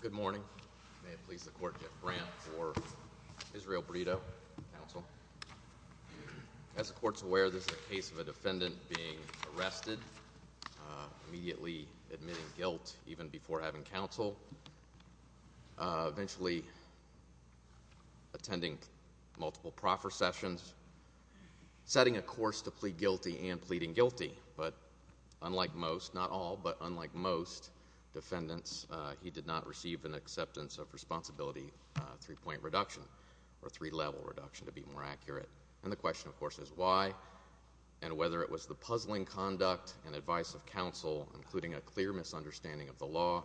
Good morning. May it please the court, Jeff Brandt for Israel Brito counsel. As the court's aware, this is a case of a defendant being arrested, immediately admitting guilt even before having counsel, eventually attending multiple proffer sessions, setting a course to plead guilty and pleading guilty. But unlike most, not all, but unlike most defendants, he did not receive an acceptance of responsibility three-point reduction or three-level reduction to be more accurate. And the question, of course, is why and whether it was the puzzling conduct and advice of counsel, including a clear misunderstanding of the law,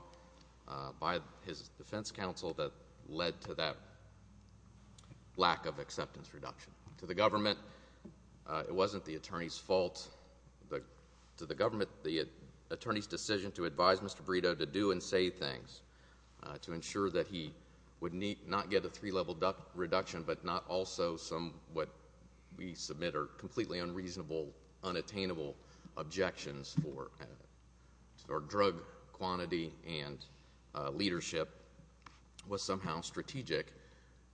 by his defense counsel that led to that lack of acceptance reduction. To the government, it wasn't the attorney's fault. To the government, the attorney's decision to advise Mr. Brito to do and say things to ensure that he would not get a three-level reduction, but not also some what we submit are completely unreasonable, unattainable objections for drug quantity and leadership, was somehow strategic.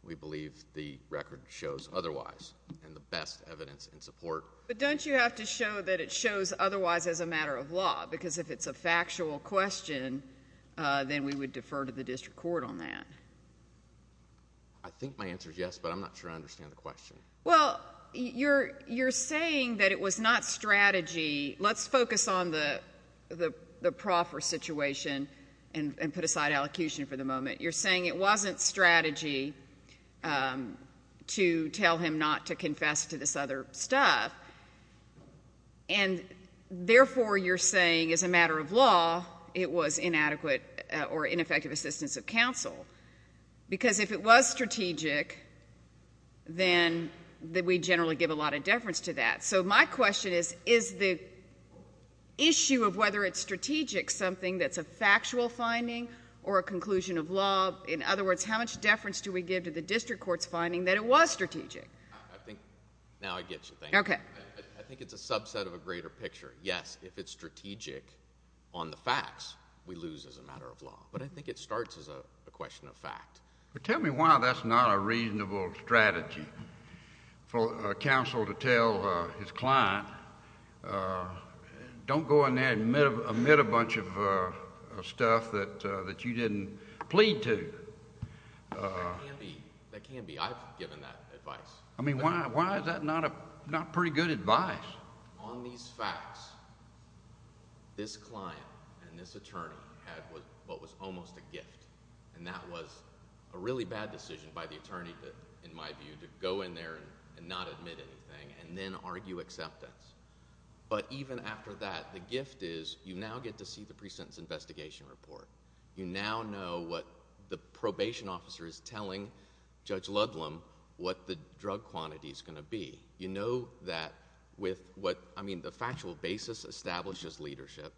We believe the record shows otherwise, and the best evidence in support. But don't you have to show that it shows otherwise as a matter of law? Because if it's a factual question, then we would defer to the district court on that. I think my answer is yes, but I'm not sure I understand the question. Well, you're saying that it was not strategy. Let's focus on the proffer situation and put aside allocution for the moment. You're saying it wasn't strategy to tell him not to confess to this other stuff. And therefore, you're saying as a matter of law, it was inadequate or ineffective assistance of counsel. Because if it was strategic, then we generally give a lot of deference to that. So my question is, is the issue of whether it's strategic something that's a factual finding or a conclusion of law? In other words, how much deference do we give to the district court's finding that it was strategic? I think now I get your thing. Okay. I think it's a subset of a greater picture. Yes, if it's strategic on the facts, we lose as a matter of law. But I think it starts as a question of fact. Tell me why that's not a reasonable strategy for a counsel to tell his client, don't go in there and admit a bunch of stuff that you didn't plead to. That can be. I've given that advice. I mean, why is that not pretty good advice? On these facts, this client and this attorney had what was almost a gift. And that was a really bad decision by the attorney, in my view, to go in there and not admit anything and then argue acceptance. But even after that, the gift is, you now get to see the pre-sentence investigation report. You now know what the probation officer is telling Judge Ludlam what the drug quantity is going to be. You know that with what, I mean, the factual basis establishes leadership.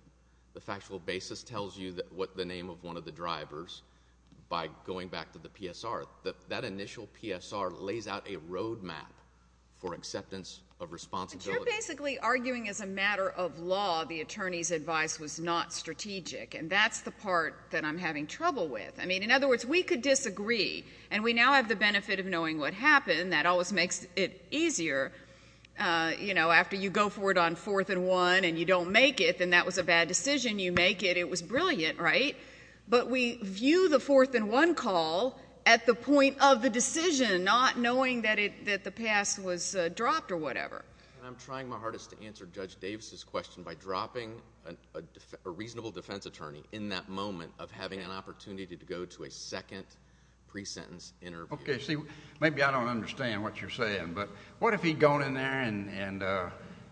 The factual basis tells you what the name of one of the drivers by going back to the PSR. That initial PSR lays out a road map for acceptance of responsibility. But you're basically arguing as a matter of law the attorney's advice was not strategic. And that's the part that I'm having trouble with. I mean, in other words, we could disagree and we now have the benefit of knowing what happened. That always makes it easier. You know, after you go for it on fourth and one and you don't make it and that was a bad decision, you make it. It was brilliant, right? But we view the fourth and one call at the point of the decision, not knowing that the pass was dropped or whatever. And I'm trying my hardest to answer Judge Davis's question by dropping a reasonable defense attorney in that moment of having an opportunity to go to a second pre-sentence interview. Okay, see, maybe I don't understand what you're saying. But what if he'd gone in there and,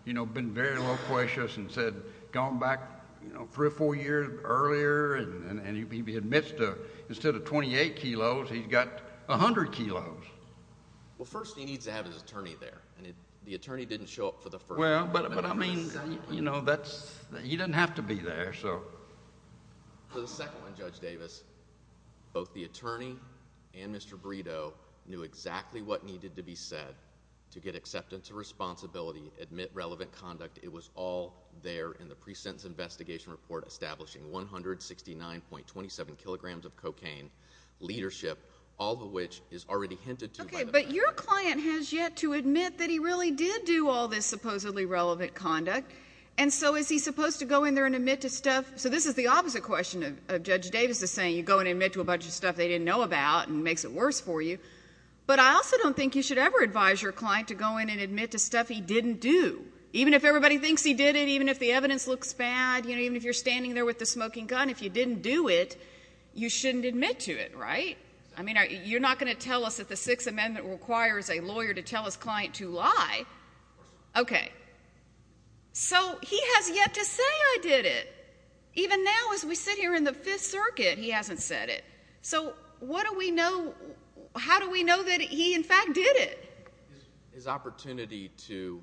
you know, been very loquacious and said, gone back, you know, three or four years earlier and he admits to instead of 28 kilos, he's got 100 kilos? Well, first, he needs to have his attorney there. And the attorney didn't show up for the first. Well, but I mean, you know, that's, he doesn't have to be there, so. For the second one, Judge Davis, both the attorney and Mr. Brito knew exactly what needed to be said to get acceptance of responsibility, admit relevant conduct. It was all there in the pre-sentence investigation report establishing 169.27 kilograms of cocaine, leadership, all of which is already hinted to by the fact that Mr. Brito has yet to admit that he really did do all this supposedly relevant conduct. And so is he supposed to go in there and admit to stuff? So this is the opposite question of Judge Davis is saying, you go and admit to a bunch of stuff they didn't know about and it makes it worse for you. But I also don't think you should ever advise your client to go in and admit to stuff he didn't do. Even if everybody thinks he did it, even if the evidence looks bad, you know, even if you're standing there with the smoking gun, if you didn't do it, you shouldn't admit to it, right? I mean, you're not going to tell us that the Sixth Amendment requires a lawyer to tell his client to lie. Okay. So he has yet to say, I did it. Even now as we sit here in the Fifth Circuit, he hasn't said it. So what do we know? How do we know that he in fact did it? His opportunity to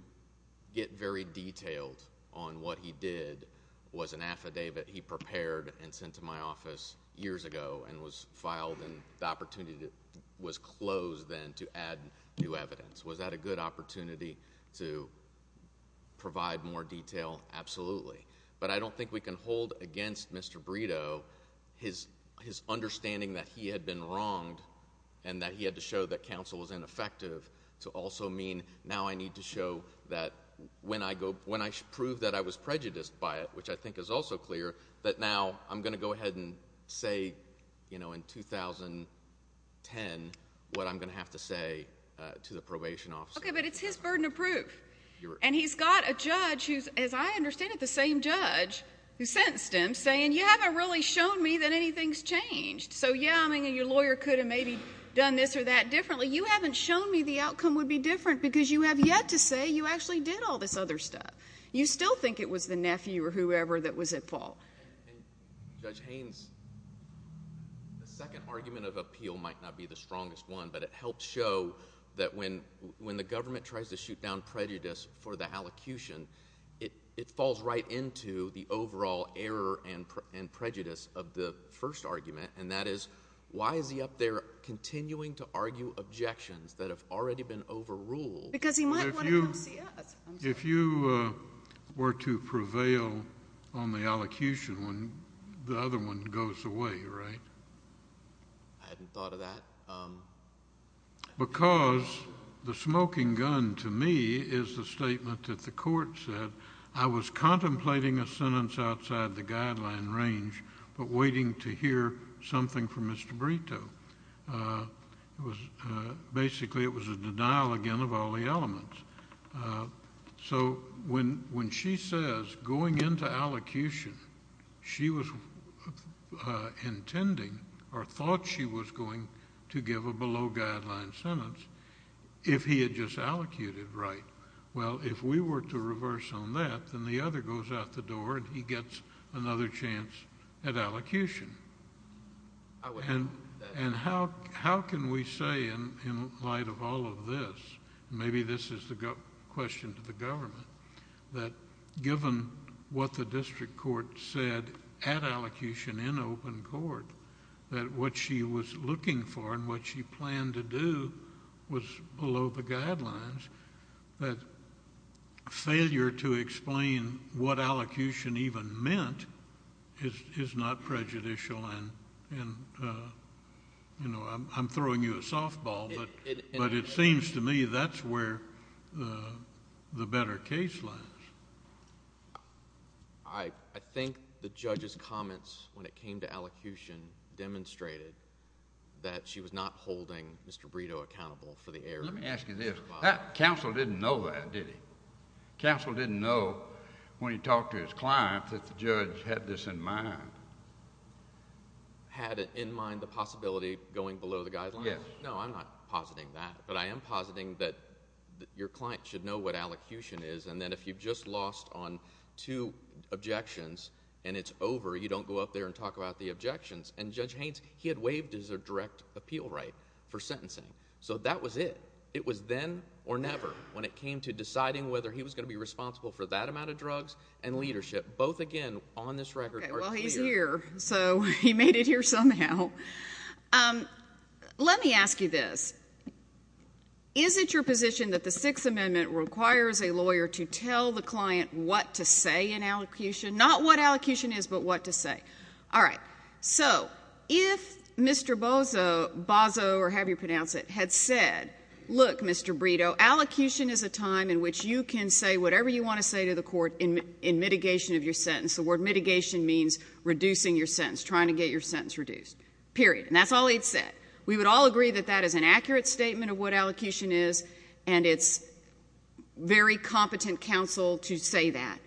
get very detailed on what he did was an affidavit he prepared and sent to my office years ago and was filed and the opportunity was closed then to add new evidence. Was that a good opportunity to provide more detail? Absolutely. But I don't think we can hold against Mr. Brito his understanding that he had been wronged and that he had to show that counsel was ineffective to also mean now I need to show that when I prove that I was prejudiced by it, which I think is also clear, that now I'm going to go ahead and say, you know, in 2010, what I'm going to have to say to the probation office. Okay. But it's his burden of proof. And he's got a judge who's, as I understand it, the same judge who sentenced him saying, you haven't really shown me that anything's changed. So yeah, I mean, your lawyer could have maybe done this or that differently. You haven't shown me the outcome would be different because you have yet to say you actually did all this other stuff. You still think it was the nephew or whoever that was at fault. Judge Haynes, the second argument of appeal might not be the strongest one, but it helps show that when the government tries to shoot down prejudice for the allocution, it falls right into the overall error and prejudice of the first argument. And that is, why is he up there continuing to argue objections that have already been overruled? Because he might want to come see us. If you were to prevail on the allocution when the other one goes away, right? I hadn't thought of that. Because the smoking gun, to me, is the statement that the court said, I was contemplating a sentence outside the guideline range but waiting to hear something from Mr. Brito. Basically, it was a denial, again, of all the elements. So when she says, going into allocution, she was intending or thought she was going to give a below-guideline sentence if he had just allocated right. Well, if we were to reverse on that, then the other goes out the door and he gets another chance at allocution. And how can we say, in light of all of this, maybe this is the question to the government, that given what the district court said at allocution in open court, that what she was looking for and what she planned to do was below the guidelines, that failure to explain what allocution even meant is not prejudicial and, you know, I'm throwing you a softball, but it seems to me that's where the better case lies. I think the judge's comments when it came to allocution demonstrated that she was not holding Mr. Brito accountable for the error. Let me ask you this. Counsel didn't know that, did he? Counsel didn't know when he talked to his client that the judge had this in mind. Had in mind the possibility of going below the guidelines? Yes. No, I'm not positing that, but I am positing that your client should know what allocution is, and then if you've just lost on two objections and it's over, you don't go up there and talk about the objections. And Judge Haynes, he had waived his direct appeal right for sentencing. So that was it. It was then or never when it came to deciding whether he was going to be responsible for that amount of drugs and leadership. Both, again, on this record are clear. Okay, well, he's here, so he made it here somehow. Let me ask you this. Is it your position that the Sixth Amendment requires a lawyer to tell the client what to say in allocution? Not what allocution is, but what to say. All right, so if Mr. Bozo, or have you pronounced it, had said, look, Mr. Brito, allocution is a time in which you can say whatever you want to say to the court in mitigation of your sentence. The word mitigation means reducing your sentence, trying to get your sentence reduced, period. And that's all he'd said. We would all agree that that is an accurate statement of what allocution is, and it's very competent counsel to say that.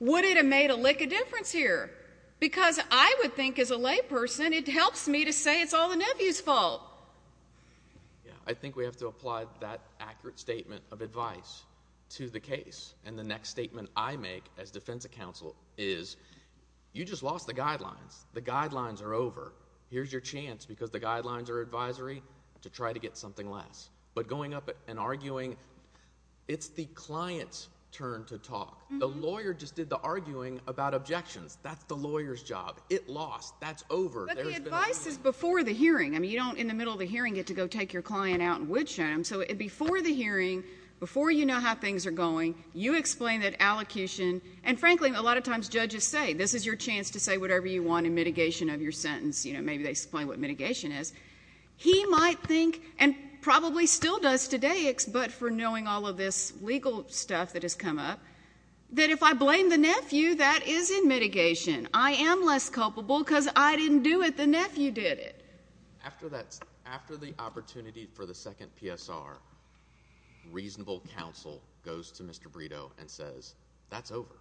Would it have made a lick of difference here? Because I would think, as a layperson, it helps me to say it's all the nephew's fault. I think we have to apply that accurate statement of advice to the case. And the next statement I make as defense counsel is, you just lost the guidelines. The guidelines are over. Here's your chance, because the guidelines are advisory, to try to get something less. But going up and arguing, it's the client's turn to talk. The lawyer just did the arguing about objections. That's the lawyer's job. It lost. That's over. But the advice is before the hearing. I mean, you don't, in the middle of the hearing, get to go take your client out and woodshot him. So before the hearing, before you know how things are going, you explain that allocution, and frankly, a lot of times judges say, this is your chance to say whatever you want in mitigation of your sentence. You know, maybe they explain what mitigation is. He might think, and probably still does today, but for knowing all of this legal stuff that has come up, that if I blame the nephew, that is in mitigation. I am less culpable, because I didn't do it. The nephew did it. After the opportunity for the second PSR, reasonable counsel goes to Mr. Brito and says, that's over.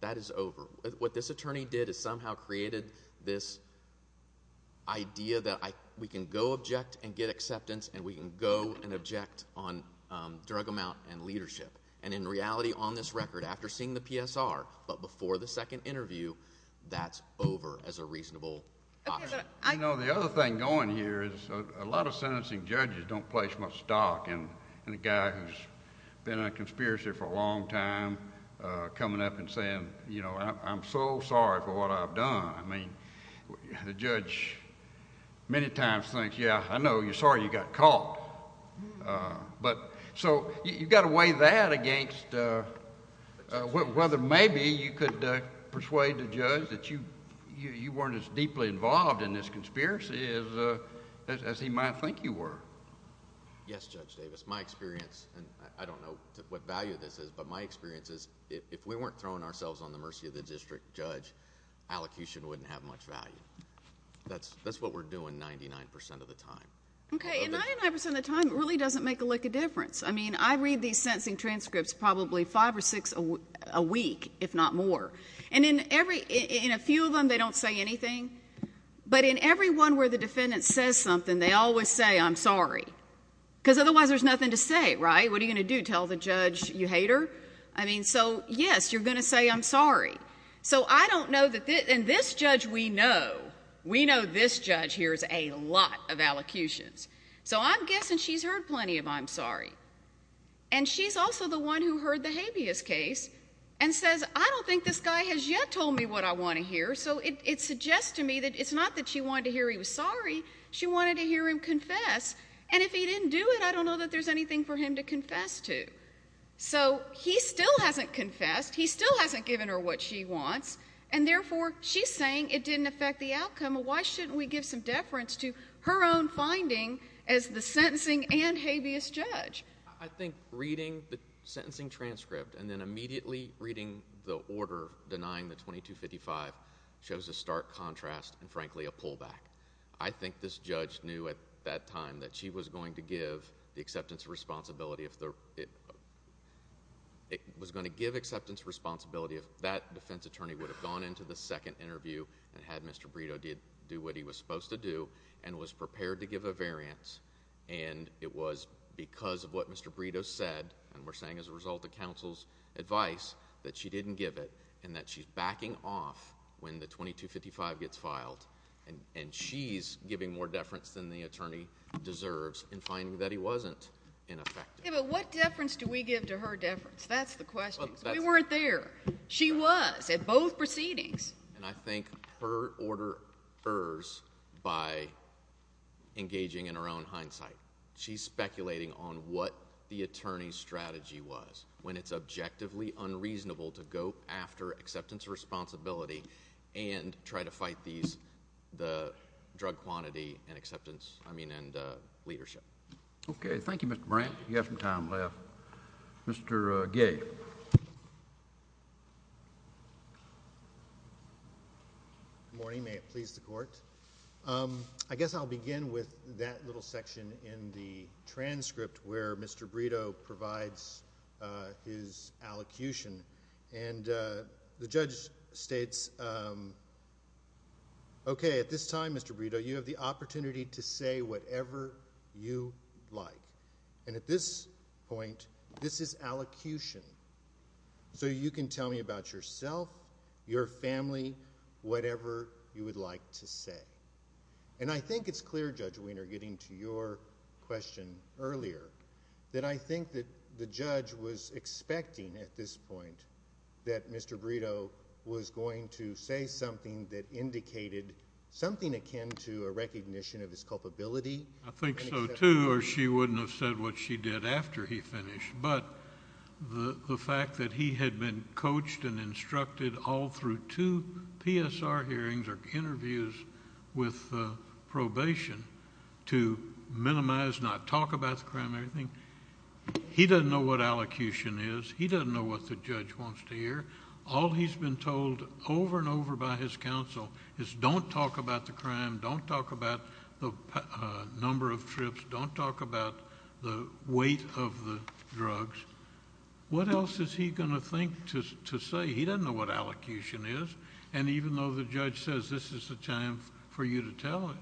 That is over. What this attorney did is somehow created this idea that we can go object and get acceptance, and we can go and object on drug amount and leadership. And in reality, on this record, after seeing the PSR, but before the second interview, that's over as a reasonable option. You know, the other thing going here is a lot of sentencing judges don't place much stock in a guy who has been in a conspiracy for a long time, coming up and saying, you know, I am so sorry for what I have done. I mean, the judge many times thinks, yeah, I know, you're sorry you got caught. So, you've got to weigh that against whether maybe you could persuade the judge that you weren't as deeply involved in this conspiracy as he might think you were. Yes, Judge Davis. My experience, and I don't know what value this is, but my experience is if we weren't throwing ourselves on the mercy of the district judge, allocution wouldn't have much value. That's what we're doing 99 percent of the time. Okay, and 99 percent of the time, it really doesn't make a lick of difference. I mean, I read these sentencing transcripts probably five or six a week, if not more. And in a few of them, they don't say anything. But in every one where the defendant says something, they always say, I'm sorry. Because otherwise, there's nothing to say, right? What are you going to do, tell the judge you hate her? I mean, so yes, you're going to say, I'm sorry. So I don't know that this, and this judge we know, we know this judge hears a lot of allocutions. So I'm guessing she's heard plenty of I'm sorry. And she's also the one who heard the habeas case and says, I don't think this guy has yet told me what I want to hear. So it suggests to me that it's not that she wanted to hear he was sorry, she wanted to hear him confess. And if he didn't do it, I don't know that there's anything for him to confess to. So he still hasn't confessed, he still hasn't given her what she wants. And therefore, she's saying it didn't affect the outcome. Why shouldn't we give some deference to her own finding as the sentencing and habeas judge? I think reading the sentencing transcript and then immediately reading the order denying the 2255 shows a stark contrast and frankly, a pullback. I think this judge knew at that time that she was going to give the acceptance responsibility if it was going to give acceptance responsibility if that defense attorney would have gone into the second interview and had Mr. Brito did do what he was supposed to do and was prepared to give a variance. And it was because of what Mr. Brito said, and we're saying as a result of counsel's advice that she didn't give it and that she's backing off when the 2255 gets filed. And she's giving more deference than the attorney deserves in finding that he wasn't. Yeah, but what deference do we give to her deference? That's the question. We weren't there. She was at both proceedings. And I think her order errs by engaging in her own hindsight. She's speculating on what the attorney's strategy was when it's objectively unreasonable to go after acceptance responsibility and try to fight these, the drug quantity and acceptance, I mean, leadership. Okay. Thank you, Mr. Brant. You have some time left. Mr. Gay. Good morning. May it please the court. I guess I'll begin with that little section in the transcript where Mr. Brito provides his allocution. And the judge states, um, okay, at this time, Mr. Brito, you have the opportunity to say whatever you like. And at this point, this is allocution. So you can tell me about yourself, your family, whatever you would like to say. And I think it's clear, Judge Wiener, getting to your question earlier, that I think that the judge was expecting at this point that Mr. Brito was going to say something that indicated something akin to a recognition of his culpability. I think so too, or she wouldn't have said what she did after he finished. But the fact that he had been coached and instructed all through two PSR hearings or interviews with probation to minimize, not talk about the crime, everything. He doesn't know what allocution is. He doesn't know what the judge wants to hear. All he's been told over and over by his counsel is don't talk about the crime. Don't talk about the number of trips. Don't talk about the weight of the drugs. What else is he going to think to say? He doesn't know what allocution is. And even though the judge says this is the time for you to tell him,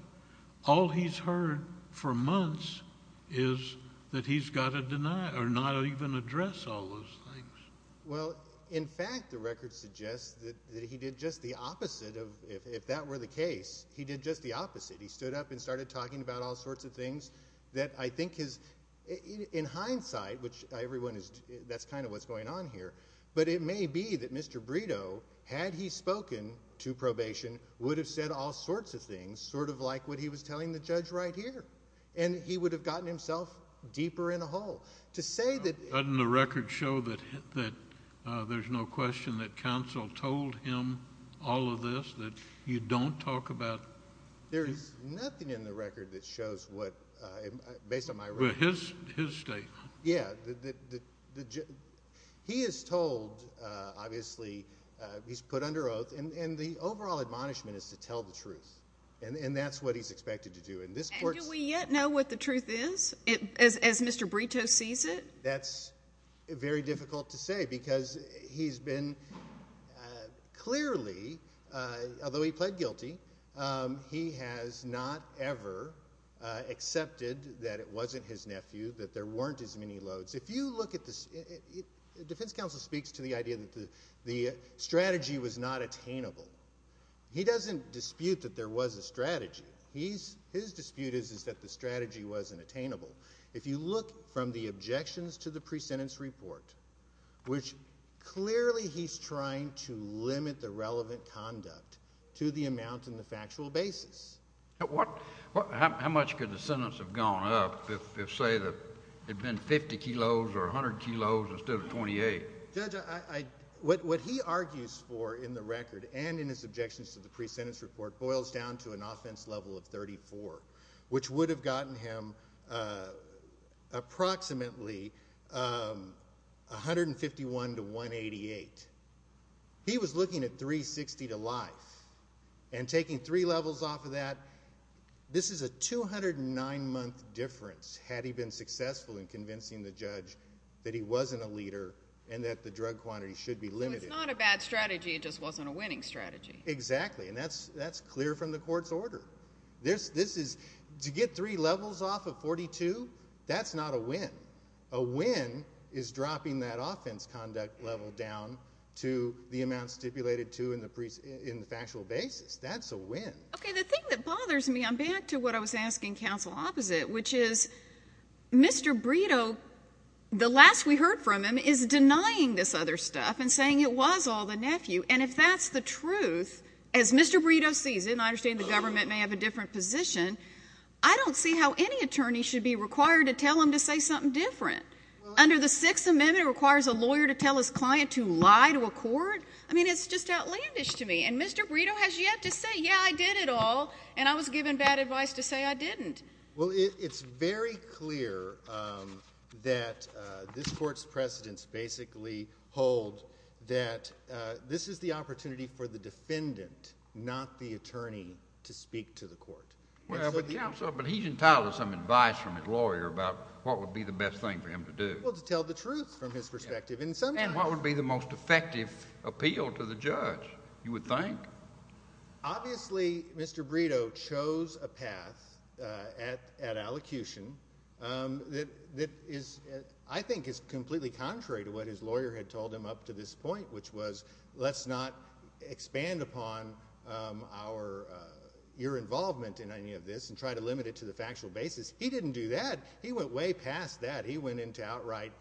all he's heard for months is that he's got to deny or not even address all those things. Well, in fact, the record suggests that he did just the opposite of, if that were the case, he did just the opposite. He stood up and started talking about all sorts of things that I think is, in hindsight, which everyone is, that's kind of what's going on here, but it may be that Mr. Brito, had he spoken to probation, would have said all sorts of things, sort of like what he was telling the judge right here, and he would have gotten himself deeper in a hole. Doesn't the record show that there's no question that counsel told him all of this, that you don't talk about? There's nothing in the record that shows what, based on my reading. His statement. Yeah. He is told, obviously, he's put under oath, and the overall admonishment is to tell the truth, and that's what he's expected to do. And do we yet know what the truth is, as Mr. Brito sees it? That's very difficult to say, because he's been clearly, although he pled guilty, he has not ever accepted that it wasn't his nephew, that there weren't as many loads. If you look at the defense counsel speaks to the idea that the strategy was not attainable. He doesn't dispute that there was a strategy. His dispute is that the strategy wasn't attainable. If you look from the objections to the pre-sentence report, which clearly he's trying to limit the relevant conduct to the amount in the factual basis. How much could the sentence have gone up if, say, it had been 50 kilos or 100 kilos instead of 28? Judge, what he argues for in the record and in his objections to the pre-sentence report boils down to an offense level of 34, which would have gotten him approximately 151 to 188. He was looking at 360 to life, and taking three levels off of this is a 209-month difference had he been successful in convincing the judge that he wasn't a leader and that the drug quantity should be limited. It's not a bad strategy, it just wasn't a winning strategy. Exactly, and that's clear from the court's order. To get three levels off of 42, that's not a win. A win is dropping that offense conduct level down to the amount stipulated to in the factual basis. That's a win. Okay, the thing that bothers me, I'm back to what I was asking counsel opposite, which is Mr. Brito, the last we heard from him, is denying this other stuff and saying it was all the nephew, and if that's the truth, as Mr. Brito sees it, and I understand the government may have a different position, I don't see how any attorney should be required to tell him to say something different. Under the Sixth Amendment, it requires a lawyer to tell his client to lie to a court. I mean, it's just outlandish to me, and Mr. Brito has yet to say, yeah, I did it all, and I was given bad advice to say I didn't. Well, it's very clear that this court's precedents basically hold that this is the opportunity for the defendant, not the attorney, to speak to the court. Well, but counsel, he's entitled to some advice from his lawyer about what would be the best thing for him to do. Well, to tell the truth from his perspective in some time. And what would be the most effective appeal to the judge, you would think? Obviously, Mr. Brito chose a path at allocution that I think is completely contrary to what his lawyer had told him up to this point, which was, let's not expand upon your involvement in any of this and try to limit it to the factual basis. He didn't do that. He went way past that. He went into outright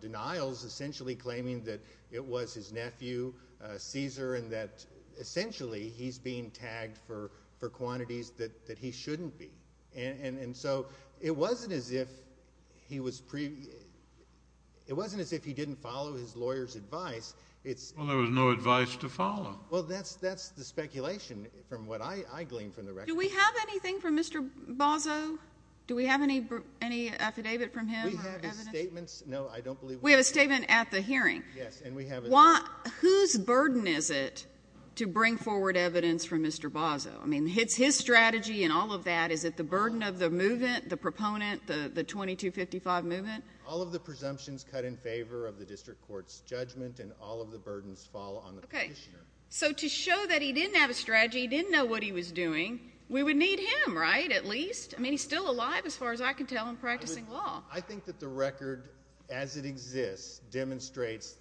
denials, essentially claiming that it was his nephew, Caesar, and that essentially he's being tagged for quantities that he shouldn't be. And so it wasn't as if he didn't follow his lawyer's advice. Well, there was no advice to follow. Well, that's the speculation from what I gleaned from the record. Do we have anything from Mr. Bozzo? Do we have any affidavit from him? We have his statements. No, I don't believe we have. We have a statement at the hearing. Yes, and we have it. Whose burden is it to bring forward evidence from Mr. Bozzo? I mean, it's his strategy and all of that. Is it the burden of the movement, the proponent, the 2255 movement? All of the presumptions cut in favor of the district court's judgment and all of the burdens fall on the petitioner. Okay. So to show that he didn't have a strategy, he didn't know what he was doing, we would need him, right, at least? I mean, he's still alive as far as I can tell in practicing law. I think that the record, as it exists, demonstrates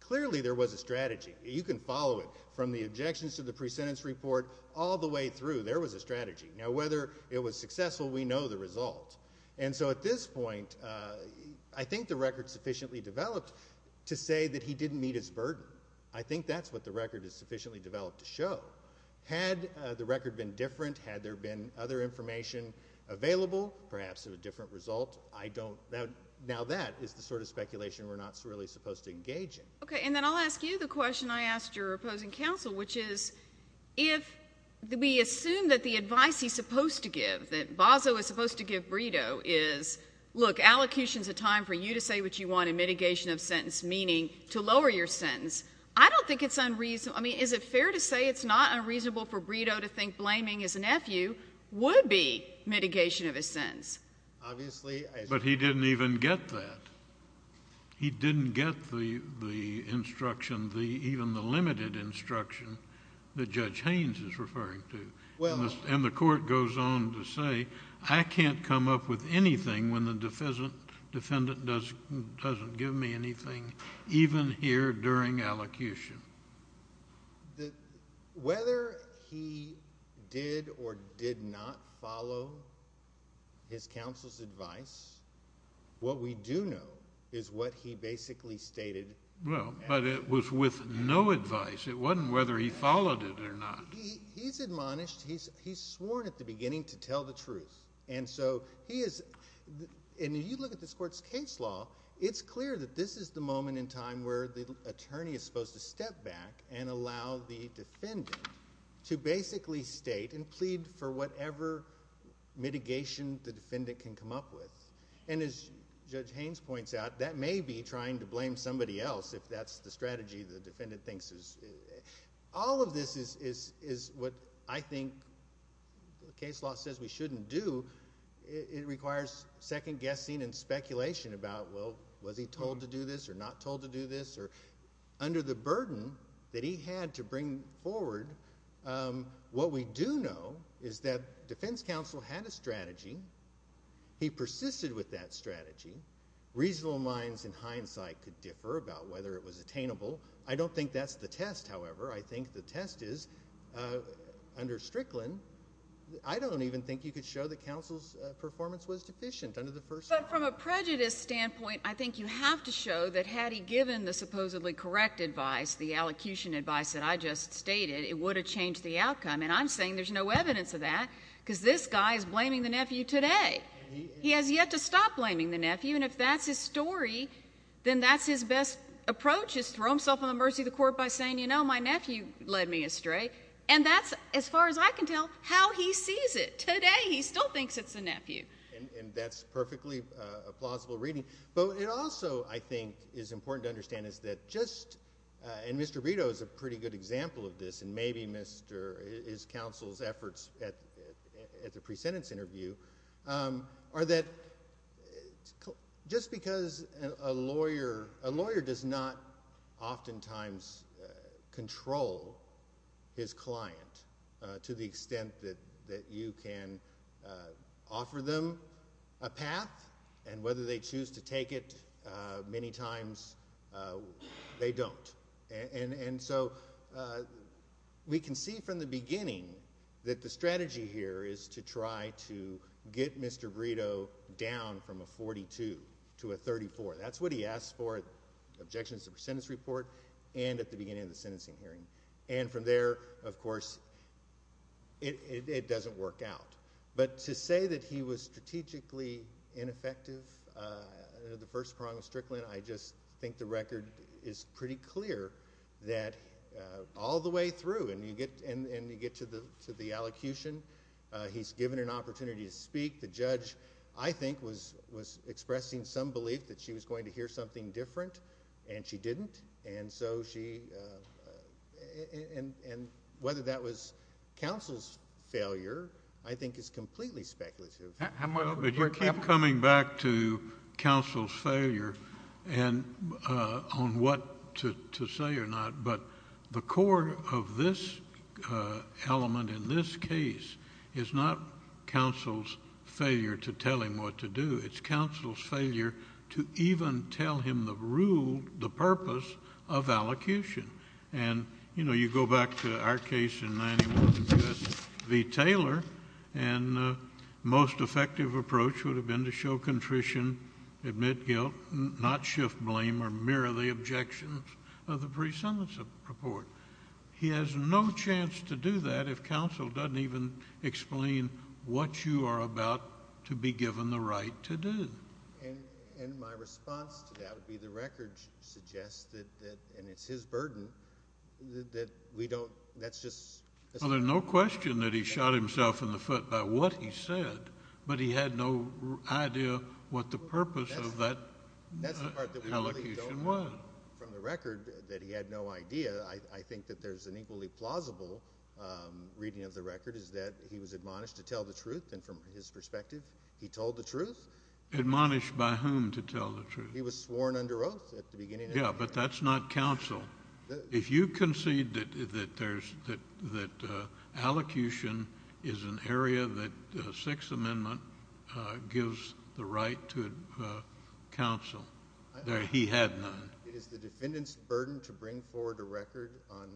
clearly there was a strategy. You can follow it from the objections to the pre-sentence report all the way through, there was a strategy. Now, whether it was successful, we know the result. And so at this point, I think the record's sufficiently developed to say that he didn't meet his burden. I think that's what the record is sufficiently developed to show. Had the record been different, had there been other information available, perhaps of a different result, I don't, now that is the sort of speculation we're not really supposed to engage in. Okay, and then I'll ask you the question I asked your opposing counsel, which is, if we assume that the advice he's supposed to give, that Bozzo is supposed to give Brito, is, look, allocution's a time for you to say what you want mitigation of sentence meaning to lower your sentence. I don't think it's unreasonable, I mean, is it fair to say it's not unreasonable for Brito to think blaming his nephew would be mitigation of his sentence? Obviously. But he didn't even get that. He didn't get the instruction, even the limited instruction that Judge Haynes is referring to. And the court goes on to say, I can't come up with anything when the defendant doesn't give me anything, even here during allocution. Whether he did or did not follow his counsel's advice, what we do know is what he basically stated. Well, but it was with no advice. It wasn't whether he followed it or not. He's admonished, he's sworn at the beginning to tell the truth. And so he is, and you look at this court's case law, it's clear that this is the moment in time where the attorney is supposed to step back and allow the defendant to basically state and plead for whatever mitigation the defendant can come up with. And as Judge Haynes points out, that may be trying to blame somebody else if that's the case law says we shouldn't do. It requires second guessing and speculation about, well, was he told to do this or not told to do this? Under the burden that he had to bring forward, what we do know is that defense counsel had a strategy. He persisted with that strategy. Reasonable minds, in hindsight, could differ about whether it was attainable. I don't think that's the test, however. I think the test is under Strickland, I don't even think you could show that counsel's performance was deficient under the first. But from a prejudice standpoint, I think you have to show that had he given the supposedly correct advice, the allocution advice that I just stated, it would have changed the outcome. And I'm saying there's no evidence of that because this guy is blaming the nephew today. He has yet to stop blaming the nephew. And if that's his story, then that's his best approach is throw himself on the mercy of the court by saying, you know, my nephew led me astray. And that's, as far as I can tell, how he sees it. Today, he still thinks it's the nephew. And that's perfectly plausible reading. But it also, I think, is important to understand is that just, and Mr. Vito is a pretty good example of this, maybe his counsel's efforts at the pre-sentence interview, are that just because a lawyer does not oftentimes control his client to the extent that you can offer them a path, and whether they choose to take it many times, they don't. And so we can see from the beginning that the strategy here is to try to get Mr. Vito down from a 42 to a 34. That's what he asked for, objections to the pre-sentence report and at the beginning of the sentencing hearing. And from there, of course, it doesn't work out. But to say that he was strategically ineffective in the first prong of Strickland, I just think the record is pretty clear that all the way through, and you get to the allocution, he's given an opportunity to speak. The judge, I think, was expressing some belief that she was going to hear something different, and she didn't. And so she, and whether that was counsel's failure, I think is completely speculative. But you keep coming back to counsel's failure and on what to say or not, but the core of this element in this case is not counsel's failure to tell him what to do. It's counsel's failure to even tell him the rule, the purpose of allocution. And, you know, you go back to our case in 91 against V. Taylor, and the most effective approach would have been to show contrition, admit guilt, not shift blame or mirror the objections of the pre-sentence report. He has no chance to do that if counsel doesn't even explain what you are about to be given the right to do. And my response to that would be the record suggests that, and it's his burden, that we don't, that's just. Well, there's no question that he shot himself in the foot by what he said, but he had no idea what the purpose of that allocation was. That's the part that we really don't know from the record that he had no idea. I think that there's an equally plausible reading of the record is that he was admonished to tell the truth, and from his perspective, he told the truth. Admonished by whom to tell the truth? He was sworn under oath at the beginning. Yeah, but that's not counsel. If you concede that there's, that allocation is an area that Sixth Amendment gives the right to counsel, that he had none. It is the defendant's burden to bring forward a record on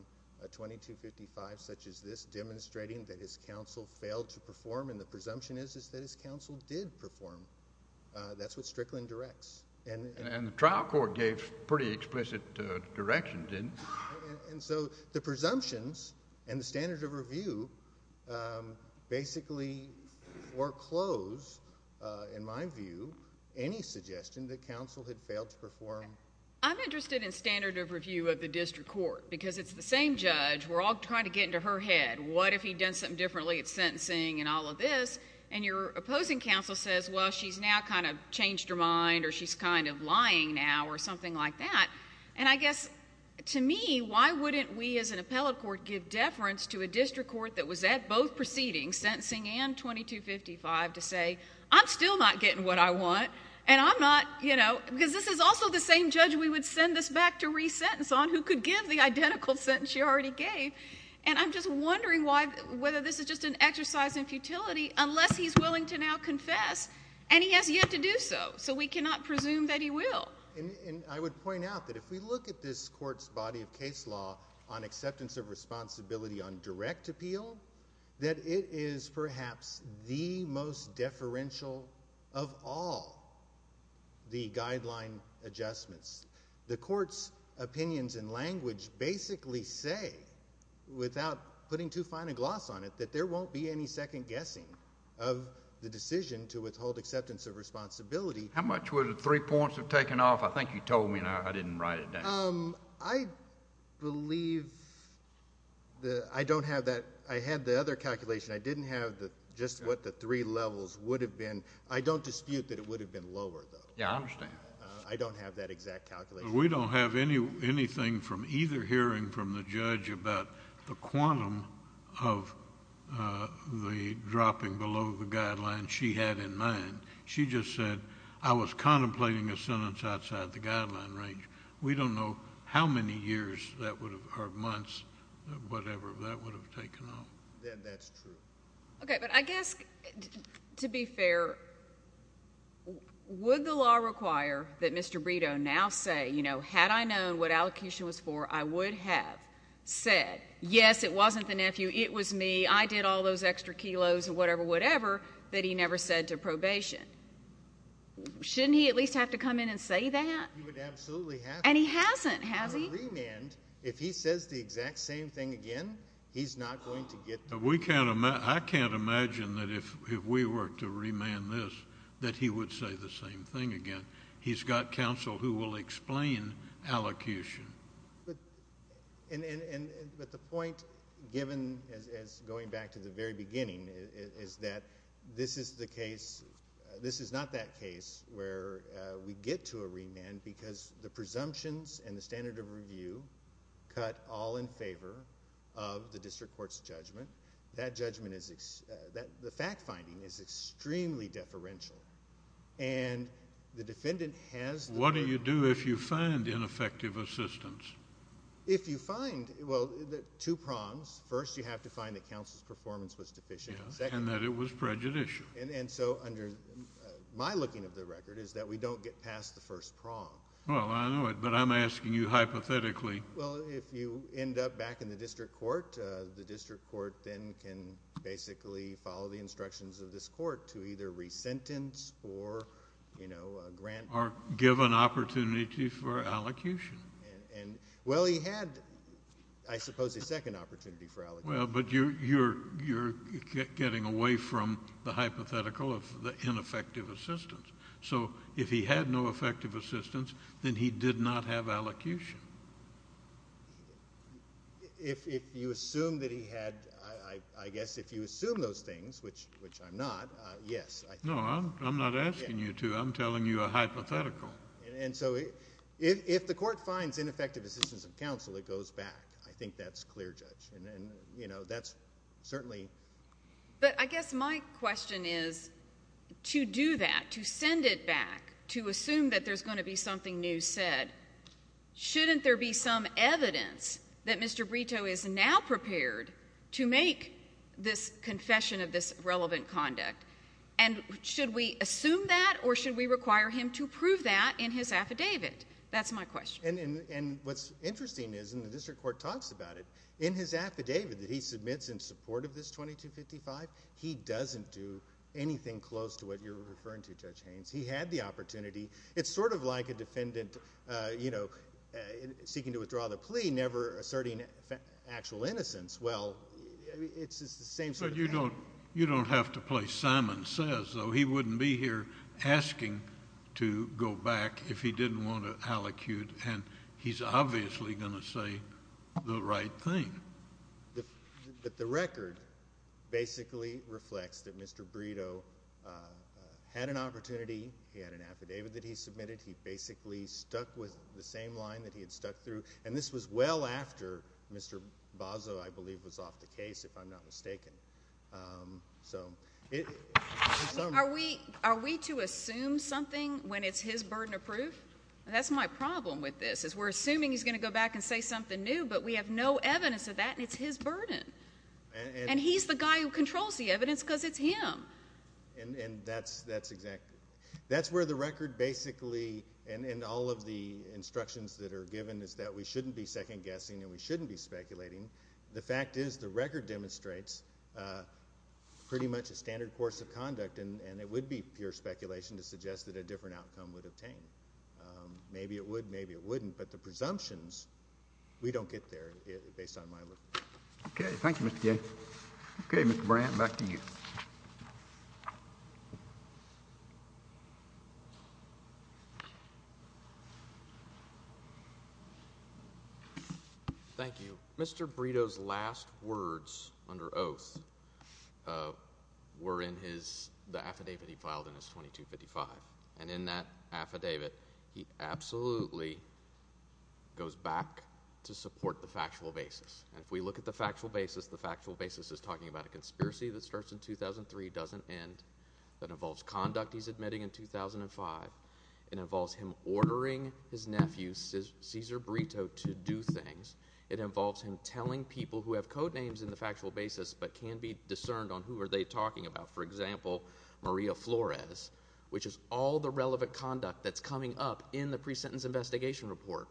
2255, such as this, demonstrating that his counsel failed to perform. That's what Strickland directs. And the trial court gave pretty explicit direction, didn't it? And so the presumptions and the standard of review basically foreclose, in my view, any suggestion that counsel had failed to perform. I'm interested in standard of review of the district court, because it's the same judge. We're all trying to get into her head. What if he'd done something differently at sentencing and all of this? And your opposing counsel says, well, she's now kind of changed her mind, or she's kind of lying now, or something like that. And I guess, to me, why wouldn't we as an appellate court give deference to a district court that was at both proceedings, sentencing and 2255, to say, I'm still not getting what I want, and I'm not, you know, because this is also the same judge we would send this back to resentence on who could give the identical sentence she already gave. And I'm just wondering whether this is just an exercise in futility, unless he's willing to now confess, and he has yet to do so. So we cannot presume that he will. And I would point out that if we look at this court's body of case law on acceptance of responsibility on direct appeal, that it is perhaps the most deferential of all the guideline adjustments. The court's opinions and language basically say, without putting too fine a gloss on it, that there won't be any second guessing of the decision to withhold acceptance of responsibility. How much would the three points have taken off? I think you told me and I didn't write it down. I believe that I don't have that. I had the other calculation. I didn't have just what the three levels would have been. I don't dispute that it would have been lower, though. Yeah, I understand. I don't have that exact calculation. We don't have anything from either hearing from the judge about the quantum of the dropping below the guideline she had in mind. She just said, I was contemplating a sentence outside the guideline range. We don't know how many years or months or whatever that would have taken off. That's true. Okay, but I guess, to be fair, would the law require that Mr. Brito now say, you know, had I known what allocution was for, I would have said, yes, it wasn't the nephew. It was me. I did all those extra kilos and whatever, whatever, that he never said to probation. Shouldn't he at least have to come in and say that? He would absolutely have to. And he hasn't, has he? On a remand, if he says the exact same thing again, he's not going to get the remand. I can't imagine that if we were to remand this, that he would say the same thing again. He's got counsel who will explain allocation. But the point given, as going back to the very beginning, is that this is the case, this is not that case where we get to a remand because the presumptions and the standard of review cut all in favor of the district court's judgment. That judgment is, the fact finding, is extremely deferential. And the defendant has... What do you do if you find ineffective assistance? If you find, well, two prongs. First, you have to find that counsel's performance was deficient. And that it was prejudicial. And so under my looking of the record is that we don't get past the first prong. Well, I know it, but I'm asking you hypothetically. Well, if you end up back in the district court, the district court then can basically follow the instructions of this court to either re-sentence or, you know, grant... Or give an opportunity for allocation. And, well, he had, I suppose, a second opportunity for allocation. Well, but you're getting away from the hypothetical of the ineffective assistance. So if he had no effective assistance, then he did not have allocation. If you assume that he had, I guess, if you assume those things, which I'm not, yes. No, I'm not asking you to. I'm telling you a hypothetical. And so if the court finds ineffective assistance of counsel, it goes back. I think that's clear, Judge. And, you know, that's certainly... But I guess my question is, to do that, to send it back, to assume that there's going to be something new said, shouldn't there be some evidence that Mr. Brito is now prepared to make this confession of this relevant conduct? And should we assume that or should we require him to prove that in his affidavit? That's my question. And what's interesting is, and the district court talks about it, in his affidavit that he submits in support of this 2255, he doesn't do anything close to what you're referring to, Judge Haynes. He had the opportunity. It's sort of like a defendant, you know, seeking to withdraw the plea, never asserting actual innocence. Well, it's the same sort of thing. But you don't have to play Simon Says, though. He wouldn't be here asking to go back if he didn't want to allocute. And he's obviously going to say the right thing. But the record basically reflects that Mr. Brito had an opportunity. He had an affidavit that he submitted. He basically stuck with the same line that he had stuck through. And this was well after Mr. Bozzo, I believe, was off the case, if I'm not mistaken. Are we to assume something when it's his burden of proof? That's my problem with this, is we're assuming he's going to go back and say something new, but we have no evidence of that, and it's his burden. And he's the guy who controls the evidence because it's him. And that's exactly. That's where the record basically, and all of the instructions that are given, is that we shouldn't be second-guessing and we shouldn't be speculating. The fact is, the record demonstrates a pretty much a standard course of conduct, and it would be pure speculation to suggest that a different outcome would obtain. Maybe it would, maybe it wouldn't, but the presumptions, we don't get there based on my look. Okay, thank you, Mr. Gay. Okay, Mr. Brandt, back to you. Thank you. Mr. Brito's last words under oath were in his, the affidavit he filed in his 2255. And in that affidavit, he absolutely goes back to support the factual basis. And if we look at the end, that involves conduct he's admitting in 2005. It involves him ordering his nephew, Cesar Brito, to do things. It involves him telling people who have codenames in the factual basis, but can be discerned on who are they talking about. For example, Maria Flores, which is all the relevant conduct that's coming up in the pre-sentence investigation report.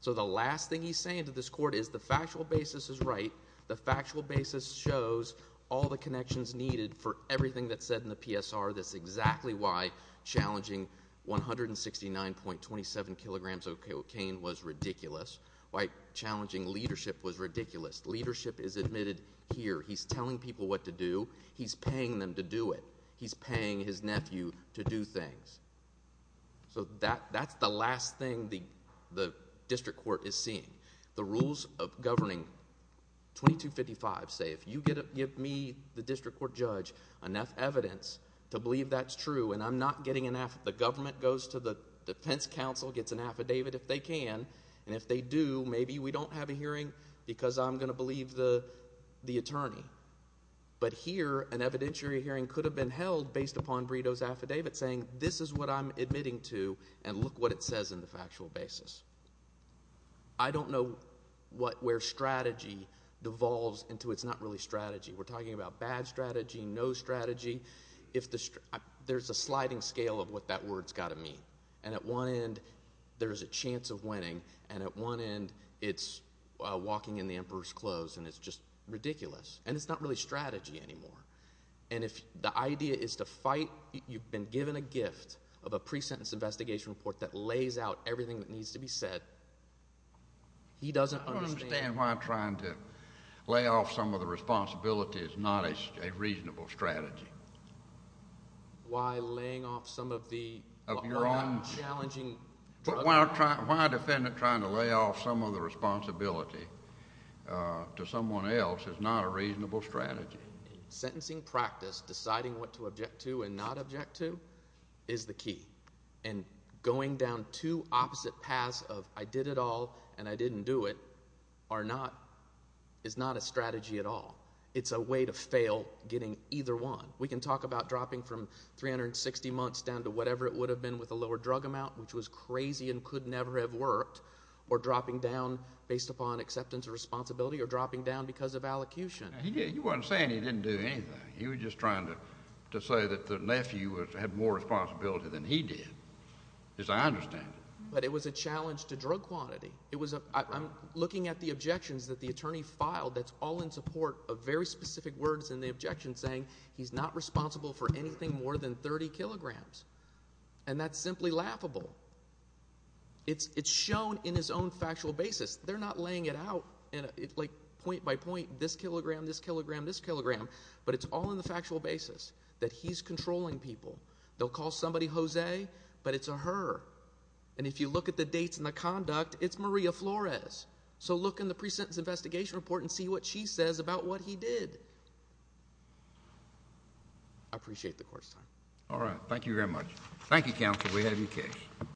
So the last thing he's saying to this court is the factual basis is right. The factual basis shows all the everything that's said in the PSR. That's exactly why challenging 169.27 kilograms of cocaine was ridiculous. Why challenging leadership was ridiculous. Leadership is admitted here. He's telling people what to do. He's paying them to do it. He's paying his nephew to do things. So that's the last thing the district court is seeing. The rules of governing 2255 say, if you give me, the district court judge, enough evidence to believe that's true, and I'm not getting an affidavit. The government goes to the defense counsel, gets an affidavit if they can, and if they do, maybe we don't have a hearing because I'm going to believe the attorney. But here, an evidentiary hearing could have been held based upon Brito's affidavit saying, this is what I'm admitting to, and look what it says in the factual basis. I don't know where strategy devolves into it's not really strategy. We're talking about bad strategy, no strategy. There's a sliding scale of what that word's got to mean. And at one end, there's a chance of winning, and at one end, it's walking in the emperor's clothes, and it's just ridiculous. And it's not really strategy anymore. And if the idea is to fight, you've been given a gift of a pre-sentence investigation report that lays out everything that needs to be said, he doesn't understand. I don't understand why trying to lay off some of the responsibility is not a reasonable strategy. Why laying off some of the, of your own, challenging. Why a defendant trying to lay off some of the responsibility to someone else is not a reasonable strategy. In sentencing practice, deciding what to object to and not object to is the key. And going down two opposite paths of, I did it all, and I didn't do it, are not, is not a strategy at all. It's a way to fail getting either one. We can talk about dropping from 360 months down to whatever it would have been with a lower drug amount, which was crazy and could never have worked, or dropping down based upon acceptance of responsibility, or dropping down because of allocution. You weren't saying he didn't do anything. You were just trying to, to say that the nephew had more responsibility than he did, as I understand it. But it was a challenge to drug quantity. It was a, I'm looking at the objections that the attorney filed that's all in support of very specific words in the objection saying he's not responsible for anything more than 30 kilograms. And that's simply laughable. It's, it's shown in his own factual basis. They're not laying it out, like point by point, this kilogram, this kilogram, this kilogram. But it's all in the factual basis that he's controlling people. They'll call somebody Jose, but it's a her. And if you look at the dates and the conduct, it's Maria Flores. So look in the pre-sentence investigation report and see what she says about what he did. I appreciate the court's time. All right. Thank you very much. Thank you, counsel. We have your case.